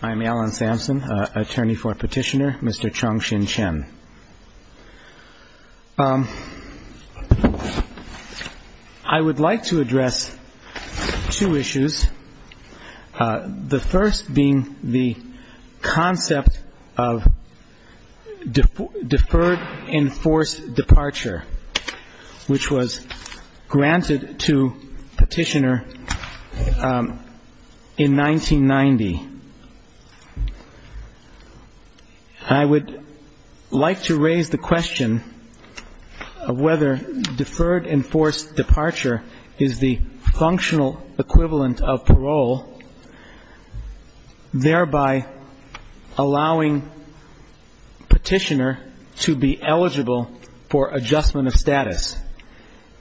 I'm Alan Sampson, attorney for Petitioner, Mr. Chongxin Chen. I would like to address two issues, the first being the concept of deferred enforced departure, which was granted to Petitioner in 1990. I would like to raise the question of whether deferred enforced departure is the enforcement of status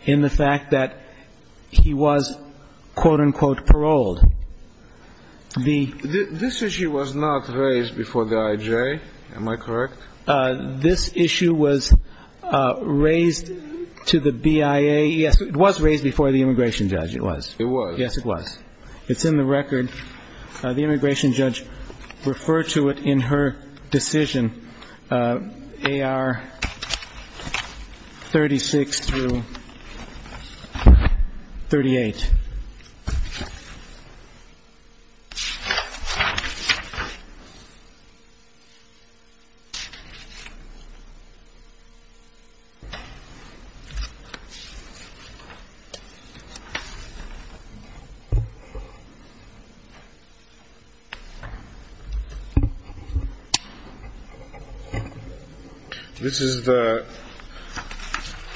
in the fact that he was quote-unquote paroled. This issue was not raised before the IJ, am I correct? This issue was raised to the BIA, yes, it was raised before the immigration judge, it was. It was. It's in the record. The immigration judge referred to it in her decision, AR 36 through 38. This is the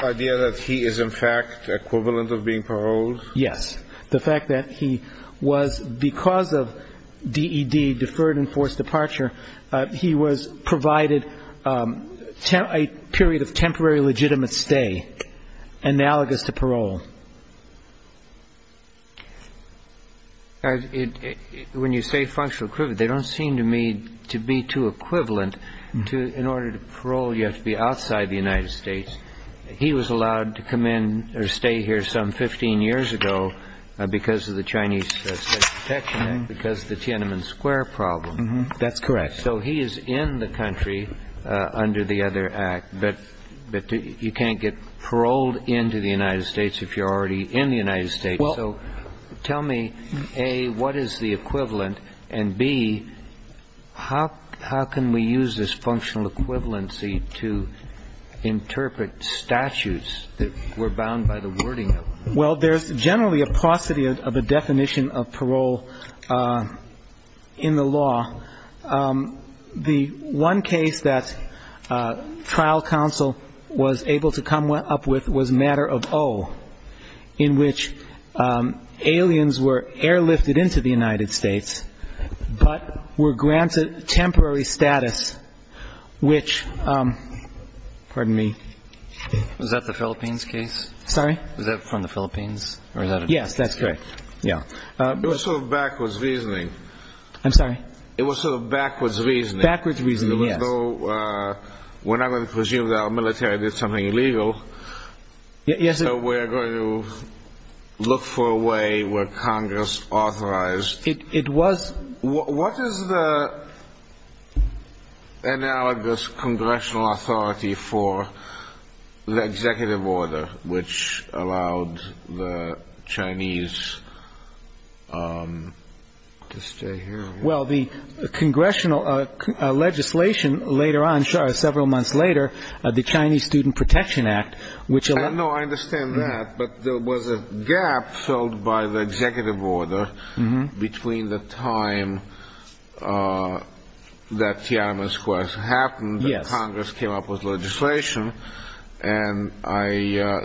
idea that he is in fact equivalent of being paroled? Yes. The fact that he was, because of DED, deferred enforced departure, he was provided a period of temporary legitimate stay analogous to parole. When you say functional equivalent, they don't seem to me to be too equivalent. In order to parole, you have to be outside the United States. He was allowed to come in or stay here some 15 years ago because of the Chinese protection act, because of the Tiananmen Square problem. That's correct. So he is in the country under the other act, but you can't get paroled into the United States if you're already in the United States. So tell me, A, what is the equivalent, and B, how can we use this functional equivalency to interpret statutes that were bound by the wording of it? Well, there's generally a paucity of a definition of parole in the law. The one case that trial counsel was able to come up with was matter of O, in which aliens were airlifted into the United States, but were granted temporary status, which, pardon me. Was that the Philippines case? Sorry? Was that from the Philippines? Yes, that's correct. It was sort of backwards reasoning. I'm sorry? It was sort of backwards reasoning. Backwards reasoning, yes. We're not going to presume that our military did something illegal, so we're going to look for a way where Congress authorized. What is the analogous congressional authority for the executive order, which allowed the Chinese to stay here? Well, the congressional legislation later on, several months later, the Chinese Student Protection Act, which allowed... Between the time that Tiananmen Square happened, Congress came up with legislation, and I...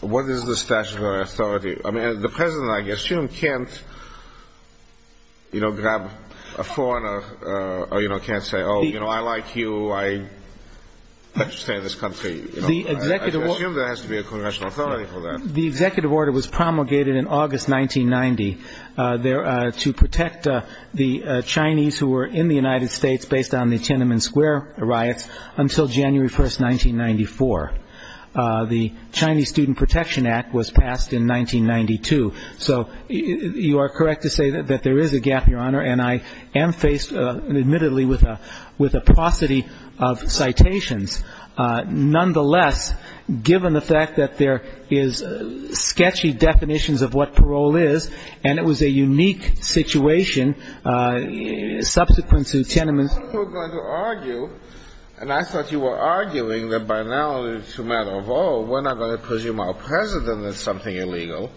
What is the statutory authority? I mean, the President, I assume, can't, you know, grab a phone or, you know, can't say, oh, you know, I like you, I'd like to stay in this country. I assume there has to be a congressional authority for that. The executive order was promulgated in August 1990 to protect the Chinese who were in the United States based on the Tiananmen Square riots until January 1, 1994. The Chinese Student Protection Act was passed in 1992. So you are correct to say that there is a gap, Your Honor, and I am faced, admittedly, with a paucity of citations. Nonetheless, given the fact that there is sketchy definitions of what parole is, and it was a unique situation, subsequent to Tiananmen... I thought you were going to argue, and I thought you were arguing that by now it's a matter of, oh, we're not going to presume our President is something illegal,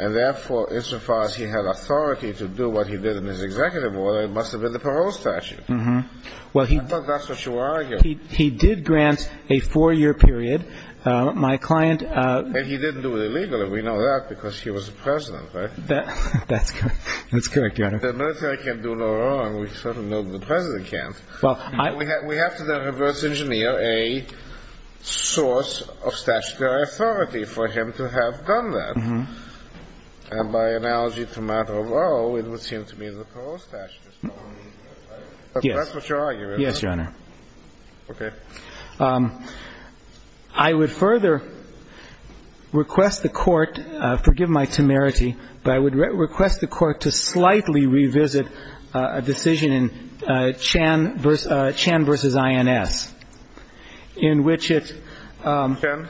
and therefore, insofar as he had authority to do what he did in his executive order, it must have been the parole statute. I thought that's what you were arguing. He did grant a four-year period. My client... And he didn't do it illegally. We know that because he was the President, right? That's correct, Your Honor. The military can't do no wrong. We certainly know the President can't. We have to then reverse-engineer a source of statutory authority for him to have done that. And by analogy, it's a matter of, oh, it would seem to me the parole statute is not... Yes. That's what you're arguing. Yes, Your Honor. Okay. I would further request the Court, forgive my temerity, but I would request the Court to slightly revisit a decision in Chan versus INS, in which it... Chan?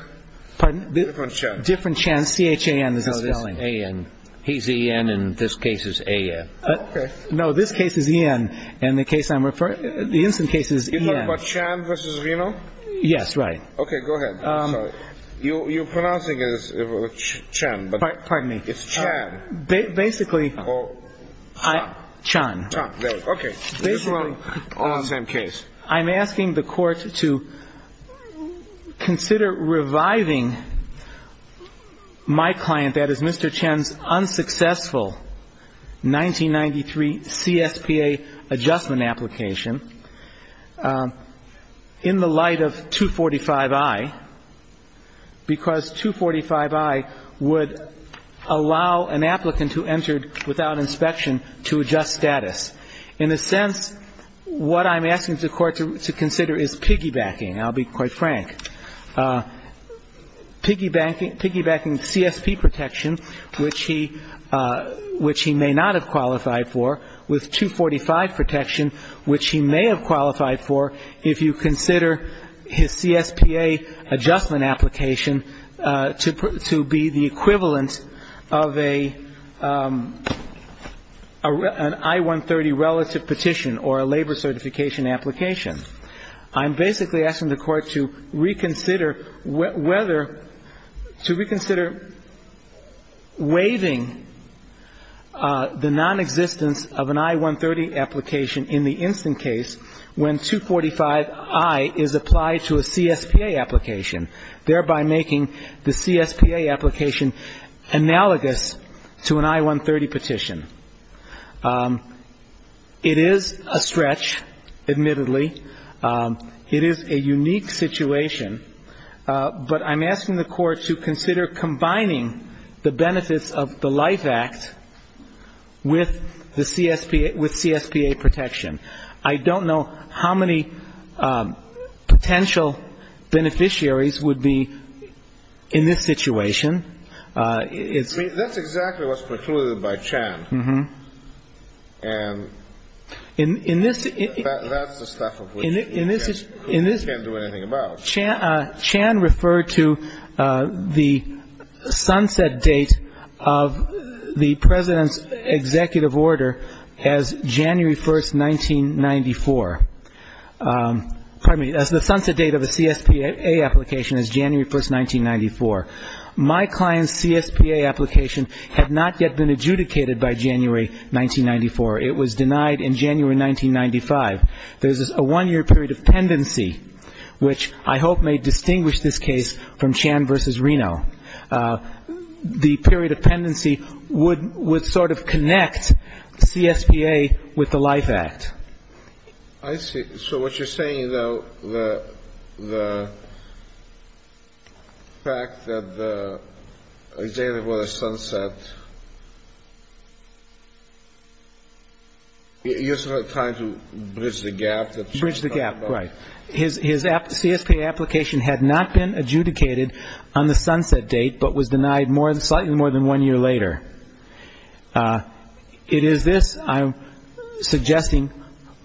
Pardon? Different Chan. Different Chan. C-H-A-N is the spelling. No, this is A-N. He's E-N, and this case is A-N. Okay. No, this case is E-N, and the case I'm referring... The INS case is E-N. You're talking about Chan versus Reno? Yes, right. Okay, go ahead. Sorry. You're pronouncing it as Chan, but... Pardon me. It's Chan. Basically... Or... Chan. Chan, there you go. Okay. Basically... On the same case. I'm asking the Court to consider reviving my client, that is, Mr. Chan's unsuccessful 1993 CSPA adjustment application, in the light of 245i, because 245i would allow an applicant who entered without inspection to adjust status. In a sense, what I'm asking the Court to consider is piggybacking. I'll be quite frank. Piggybacking CSP protection, which he may not have qualified for, with 245 protection, which he may have qualified for, if you consider his CSPA adjustment application to be the equivalent of an I-130 relative petition or a labor certification application. I'm basically asking the Court to reconsider whether to reconsider waiving the nonexistence of an I-130 application in the light of 245. In the instant case, when 245i is applied to a CSPA application, thereby making the CSPA application analogous to an I-130 petition. It is a stretch, admittedly. It is a unique situation, but I'm asking the Court to consider combining the benefits of the LIFE Act with CSPA protection. I don't know how many potential beneficiaries would be in this situation. I mean, that's exactly what's precluded by Chan. And that's the stuff of which we can't do anything about. Chan referred to the sunset date of the President's executive order as January 1st, 1994. Pardon me, as the sunset date of a CSPA application as January 1st, 1994. My client's CSPA application had not yet been adjudicated by January 1994. It was denied in January 1995. There's a one-year period of pendency, which I hope may distinguish this case from Chan v. Reno. The period of pendency would sort of connect CSPA with the LIFE Act. I see. So what you're saying, though, the fact that the executive order sunset, you're sort of trying to deny that, bridge the gap, right. His CSPA application had not been adjudicated on the sunset date, but was denied slightly more than one year later. It is this I'm suggesting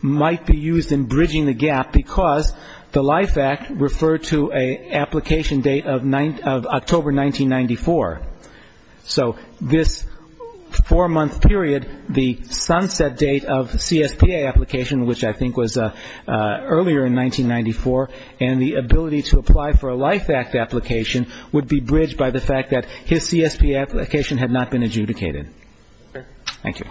might be used in bridging the gap because the LIFE Act referred to an application date of October 1994. So this four-month period, the sunset date of the CSPA application, which I think was earlier in 1994, and the ability to apply for a LIFE Act application would be bridged by the fact that his CSPA application had not been adjudicated. Thank you.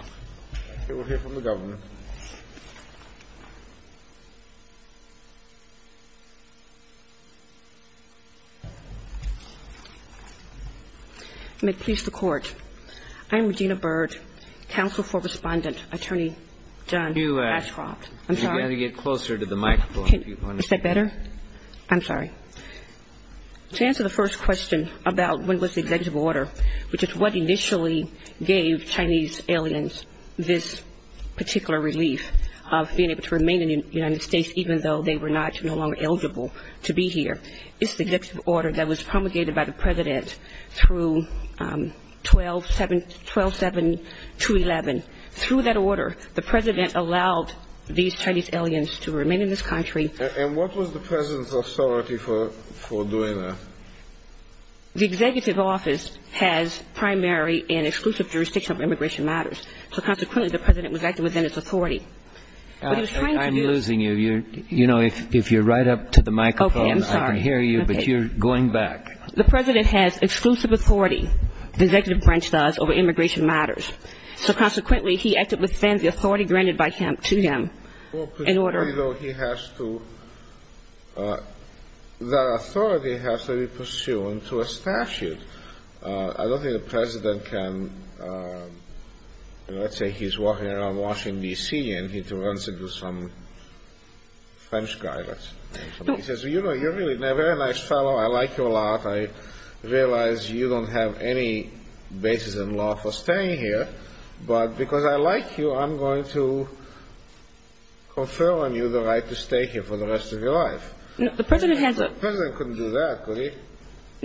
I'm Regina Byrd, counsel for Respondent Attorney John Ashcroft. I'm sorry. To answer the first question about when was the executive order, which is what initially gave Chinese aliens this particular relief of being able to remain in the United States even though they were no longer eligible to be here. It's the executive order that was promulgated by the President through 12-7-2-11. Through that order, the President allowed these Chinese aliens to remain in this country. And what was the President's authority for doing that? The executive office has primary and exclusive jurisdiction of immigration matters. So consequently, the President was acting within its authority. I'm losing you. You know, if you're right up to the microphone, I can hear you, but you're going back. The President has exclusive authority, the executive branch does, over immigration matters. So consequently, he acted within the authority granted to him. I don't think the President can, let's say he's walking around Washington, D.C. and he runs into some French guy, let's say. He says, you know, you're really a very nice fellow, I like you a lot, I realize you don't have any basis in law for staying here, but because I like you, I'm going to confer on you the right to stay here for the rest of your life. The President couldn't do that, could he?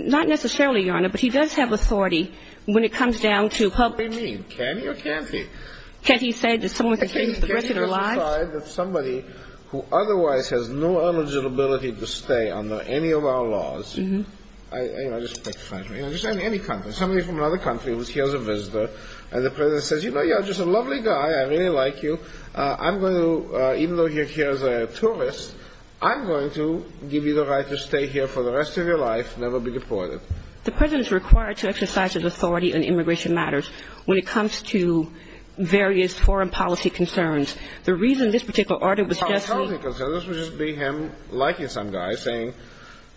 Not necessarily, Your Honor, but he does have authority when it comes down to public... What do you mean, can he or can't he? Can't he say that someone can stay here for the rest of their lives? Can't he just decide that somebody who otherwise has no eligibility to stay under any of our laws, in any country, somebody from another country who's here as a visitor, and the President says, you know, you're just a lovely guy, I really like you, even though you're here as a tourist, I'm going to give you the right to stay here for the rest of your life, never be deported. The President is required to exercise his authority in immigration matters when it comes to various foreign policy concerns. The reason this particular article was just... Policy concerns would just be him liking some guy, saying,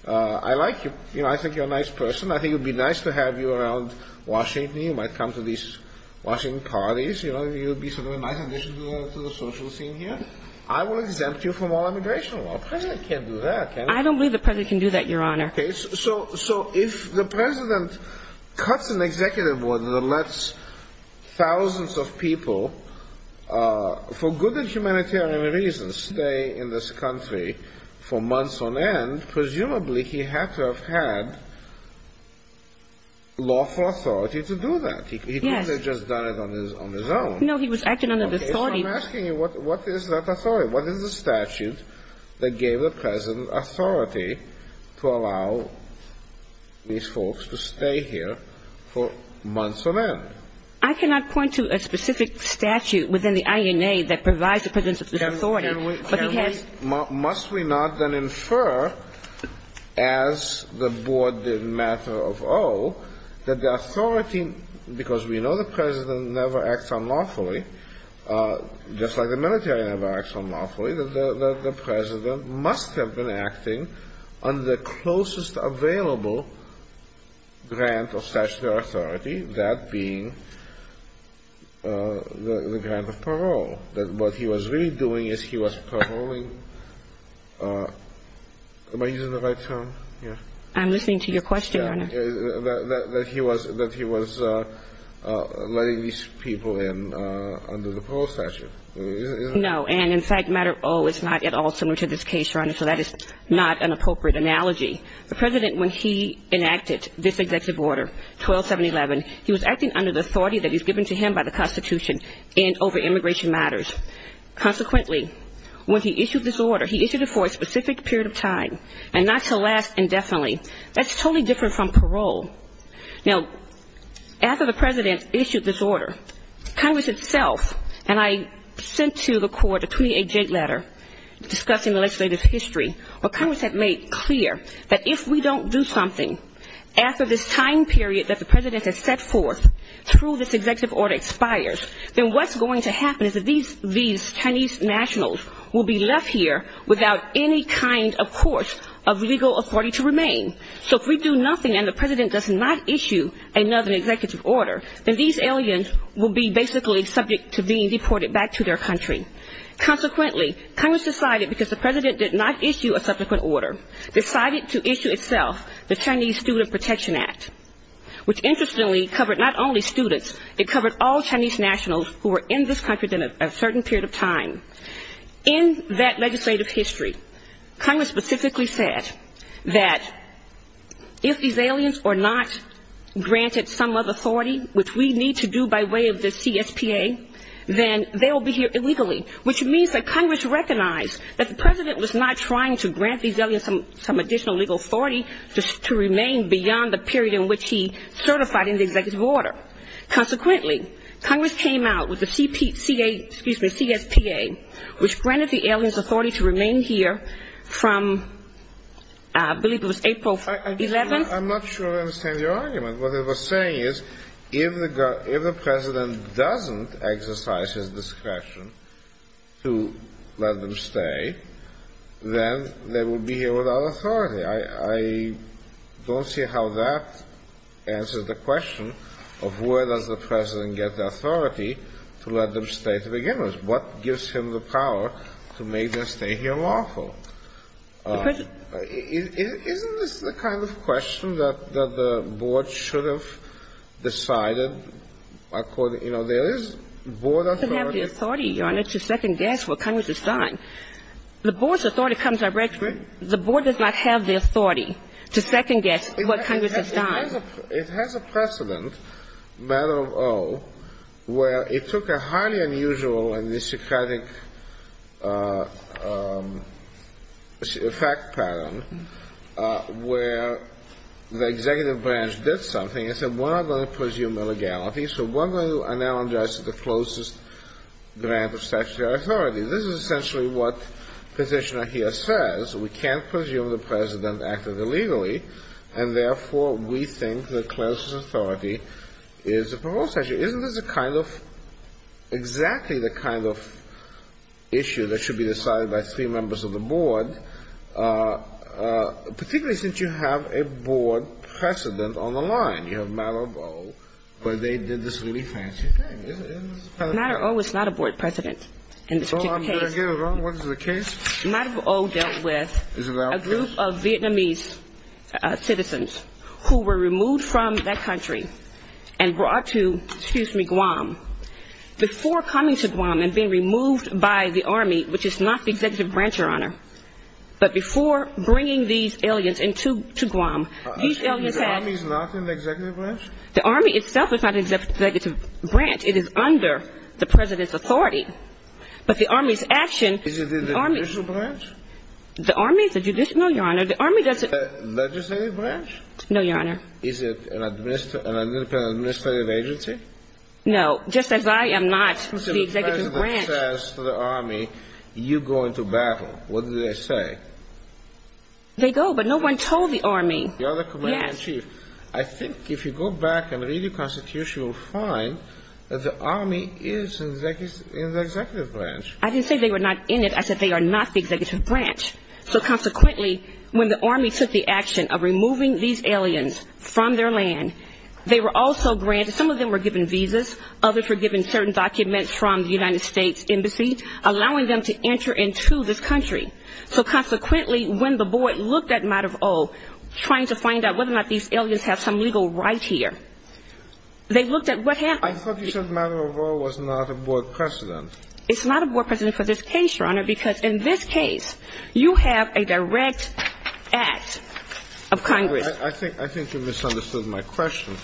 I like you, you know, I think you're a nice person, I think it would be nice to have you around Washington, you might come to these Washington parties, you know, you'd be sort of a nice addition to the social scene here, I will exempt you from all immigration laws. The President can't do that, can he? I don't believe the President can do that, Your Honor. Okay, so if the President cuts an executive order that lets thousands of people, for good and humanitarian reasons, stay in this country for months on end, presumably he had to have had lawful authority to do that. Yes. He could have just done it on his own. No, he was acting under the authority... I'm asking you, what is that authority? What is the statute that gave the President authority to allow these folks to stay here for months on end? I cannot point to a specific statute within the INA that provides the President with authority, but he has... must we not then infer, as the Board did in matter of O, that the authority, because we know the President never acts unlawfully, just like the military never acts unlawfully, that the President must have been acting under the closest available grant of statutory authority, that being the grant of parole, that what he was really doing is he was paroling... Am I using the right term? I'm listening to your question, Your Honor. That he was letting these people in under the parole statute. No, and in fact, matter of O is not at all similar to this case, Your Honor, so that is not an appropriate analogy. The President, when he enacted this executive order, 12711, he was acting under the authority that was given to him by the Constitution and over immigration matters. Consequently, when he issued this order, he issued it for a specific period of time and not to last indefinitely. That's totally different from parole. Now, after the President issued this order, Congress itself, and I sent to the court a 28-J letter discussing the legislative history, where Congress had made clear that if we don't do something, after this time period that the President has set forth through this executive order expires, then what's going to happen is that these Chinese nationals will be left here without any kind, of course, of legal authority to remain. So if we do nothing and the President does not issue another executive order, then these aliens will be basically subject to being deported back to their country. Consequently, Congress decided, because the President did not issue a subsequent order, decided to issue itself the Chinese Student Protection Act, which interestingly covered not only students, it covered all Chinese nationals who were in this country within a certain period of time. In that legislative history, Congress specifically said that if these aliens are not granted some other authority, which we need to do by way of the CSPA, then they will be here illegally, which means that Congress recognized that the President was not trying to grant these aliens some additional legal authority to remain beyond the period in which he certified in the executive order. Consequently, Congress came out with the CSPA, which granted the aliens authority to remain here from, I believe it was April 11th? I'm not sure I understand your argument. What it was saying is, if the President doesn't exercise his discretion to let them stay, then they will be here without authority. I don't see how that answers the question of where does the President get the authority to let them stay to begin with. What gives him the power to make their stay here lawful? Isn't this the kind of question that the Board should have decided? You know, there is Board authority. It doesn't have the authority, Your Honor, to second-guess what Congress has signed. The Board's authority comes out regularly. The Board does not have the authority to second-guess what Congress has signed. It has a precedent, matter of O, where it took a highly unusual and misogynistic fact pattern where the executive branch did something and said, we're not going to presume illegality, so we're going to analogize it to the closest grant of statutory authority. This is essentially what Petitioner here says. We can't presume the President acted illegally, and, therefore, we think the closest authority is the proposed statute. Isn't this a kind of — exactly the kind of issue that should be decided by three members of the Board, particularly since you have a Board precedent on the line? You have matter of O where they did this really fancy thing. Matter of O is not a Board precedent in this particular case. Matter of O dealt with a group of Vietnamese citizens who were removed from that country and brought to, excuse me, Guam. Before coming to Guam and being removed by the Army, which is not the executive branch, Your Honor, but before bringing these aliens to Guam, these aliens had — they had been brought to Guam by the President. They had been brought to Guam by the President. It is under the President's authority. But the Army's action — Is it in the judicial branch? The Army? The Army is in the executive branch. I didn't say they were not in it. I said they are not the executive branch. So, consequently, when the Army took the action of removing these aliens from their land, they were also granted — some of them were given visas, others were given certain documents from the United States Embassy, allowing them to enter into this country. So, consequently, when the Board looked at Matter of O, trying to find out whether or not these aliens have some legal right here, they looked at what happened — I thought you said Matter of O was not a Board precedent. It's not a Board precedent for this case, Your Honor, because in this case, you have a direct act of Congress. I think you misunderstood my question.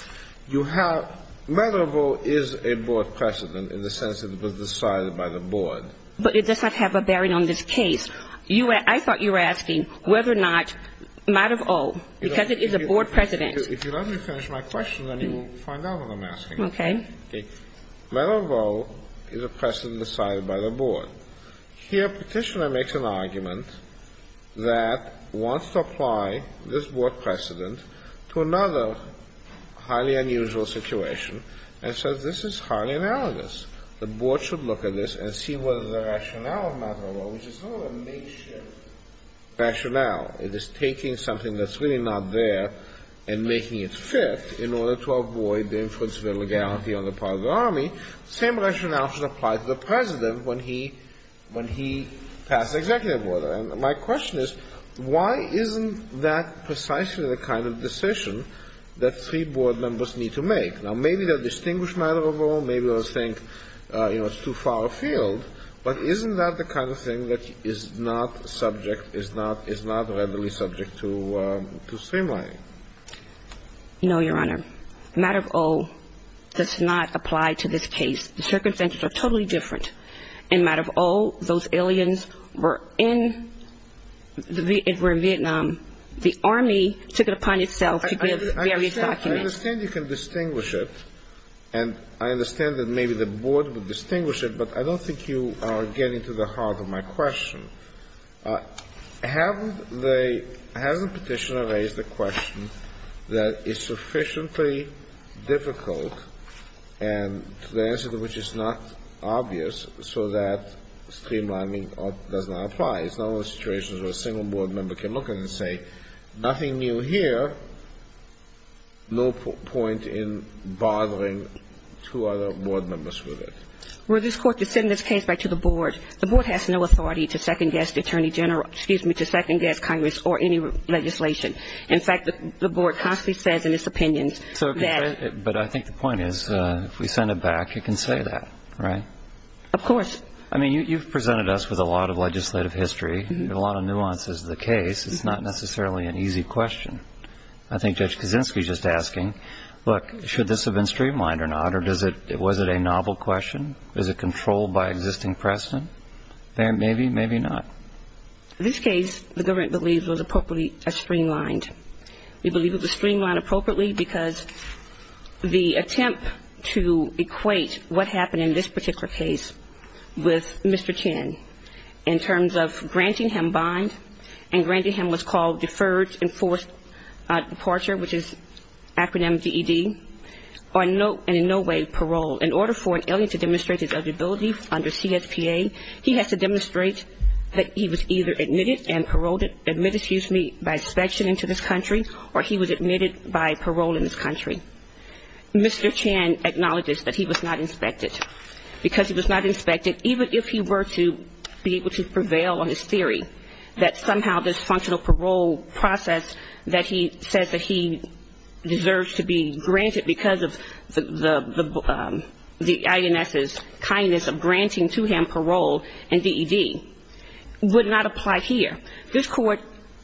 Matter of O is a Board precedent in the sense that it was decided by the Board. But it does not have a bearing on this case. I thought you were asking whether or not Matter of O, because it is a Board precedent. If you let me finish my question, then you will find out what I'm asking. Matter of O is a precedent decided by the Board. Here, Petitioner makes an argument that wants to apply this Board precedent to another highly unusual situation and says this is highly analogous. The Board should look at this and see whether the rationale of Matter of O, which is not a makeshift rationale, it is taking something that's really not there and making it fit in order to avoid the influence of illegality on the part of the Army, the same rationale should apply to the President when he passes executive order. And my question is, why isn't that precisely the kind of decision that three Board members need to make? Now, maybe they'll distinguish Matter of O. Maybe they'll think, you know, it's too far afield. But isn't that the kind of thing that is not subject, is not readily subject to streamlining? No, Your Honor. Matter of O does not apply to this case. The circumstances are totally different. In Matter of O, those aliens were in Vietnam. The Army took it upon itself to give various documents. I understand you can distinguish it, and I understand that maybe the Board would distinguish it, but I don't think you are getting to the heart of my question. Has the Petitioner raised the question that it's sufficiently difficult and the answer to which is not obvious so that streamlining does not apply? It's not one of those situations where a single Board member can look at it and say nothing new here, no point in bothering two other Board members with it. Well, this Court has sent this case back to the Board. The Board has no authority to second-guess the Attorney General, excuse me, to second-guess Congress or any legislation. In fact, the Board constantly says in its opinions that ---- But I think the point is if we send it back, it can say that, right? Of course. I mean, you've presented us with a lot of legislative history and a lot of nuances of the case. It's not necessarily an easy question. I think Judge Kaczynski is just asking, look, should this have been streamlined or not, or was it a novel question? Is it controlled by existing precedent? Maybe, maybe not. In this case, the government believes it was appropriately streamlined. We believe it was streamlined appropriately because the attempt to equate what happened in this particular case with Mr. Chin in terms of granting him bond and granting him what's called deferred enforced departure, which is acronym VED, or in no way parole, in order for an alien to demonstrate his eligibility under CSPA, he has to demonstrate that he was either admitted and paroled, admitted, excuse me, by inspection into this country, or he was admitted by parole in this country. Mr. Chin acknowledges that he was not inspected because he was not inspected even if he were to be able to prevail on his theory that somehow this functional parole process that he says that he deserves to be granted because of the INS's kindness of granting to him parole and VED would not apply here. This Court,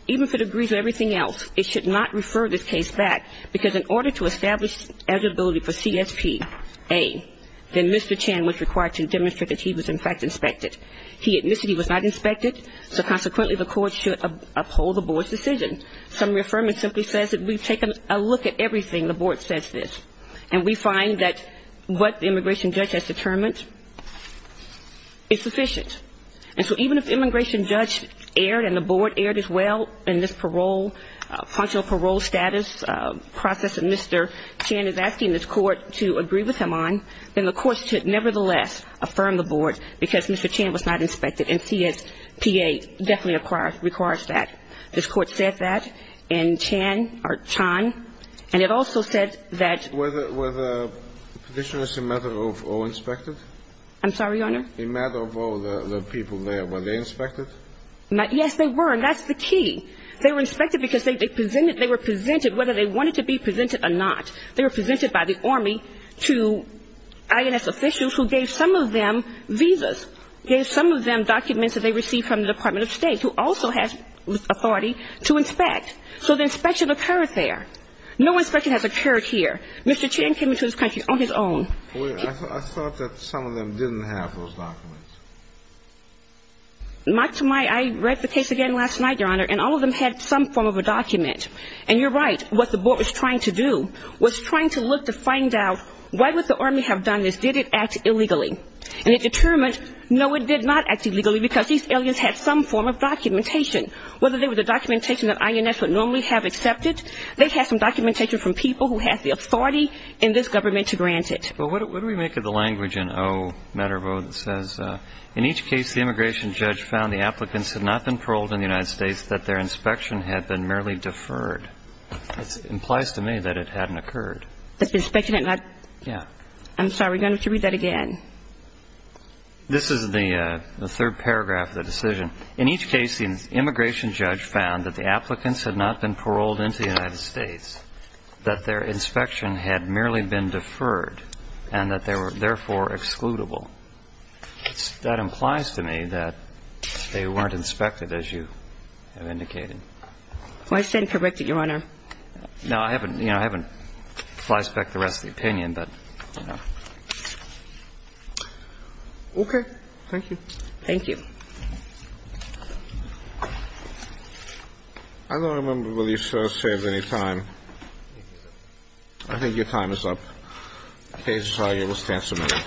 even if it agrees with everything else, it should not refer this case back because in order to establish eligibility for CSPA, then Mr. Chin was required to demonstrate that he was in fact inspected. He admitted he was not inspected, so consequently the Court should uphold the Board's decision. Some reaffirmance simply says that we've taken a look at everything. The Board says this. And we find that what the immigration judge has determined is sufficient. And so even if the immigration judge erred and the Board erred as well in this parole functional parole status process that Mr. Chin is asking this Court to agree with him on, then the Court should nevertheless affirm the Board because Mr. Chin was not inspected and CSPA definitely requires that. This Court said that in Chan or Chan. And it also said that ---- Were the petitioners a matter of all inspected? I'm sorry, Your Honor? A matter of all the people there. Were they inspected? Yes, they were. And that's the key. They were inspected because they presented they were presented whether they wanted to be presented or not. They were presented by the Army to INS officials who gave some of them visas, gave some of them documents that they received from the Department of State who also had authority to inspect. So the inspection occurred there. No inspection has occurred here. Mr. Chin came into this country on his own. I thought that some of them didn't have those documents. I read the case again last night, Your Honor, and all of them had some form of a document. And you're right. What the Board was trying to do was trying to look to find out why would the Army have done this? Did it act illegally? And it determined no, it did not act illegally because these aliens had some form of documentation. Whether they were the documentation that INS would normally have accepted, they had some documentation from people who had the authority in this government to grant it. Well, what do we make of the language in O, matter of O, that says, in each case the immigration judge found the applicants had not been paroled in the United States, that their inspection had been merely deferred? It implies to me that it hadn't occurred. That the inspection had not? Yeah. I'm sorry. You're going to have to read that again. This is the third paragraph of the decision. In each case, the immigration judge found that the applicants had not been paroled into the United States, that their inspection had merely been deferred, and that they were therefore excludable. That implies to me that they weren't inspected, as you have indicated. Well, I said corrected, Your Honor. No, I haven't. You know, I haven't flashed back the rest of the opinion, but, you know. Okay. Thank you. Thank you. I don't remember whether you, sir, have saved any time. I think your time is up. Okay. Sorry. We'll stand for a minute.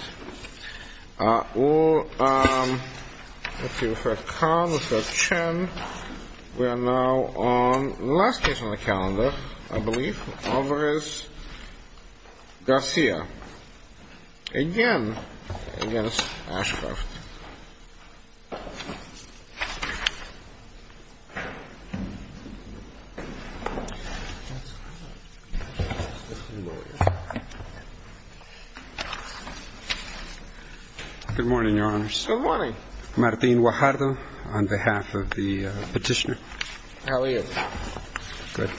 We are now on the last case on the calendar, I believe, Alvarez-Garcia, again against Ashcroft. Good morning, Your Honors. Good morning. Martin Guajardo on behalf of the petitioner. How are you? Good.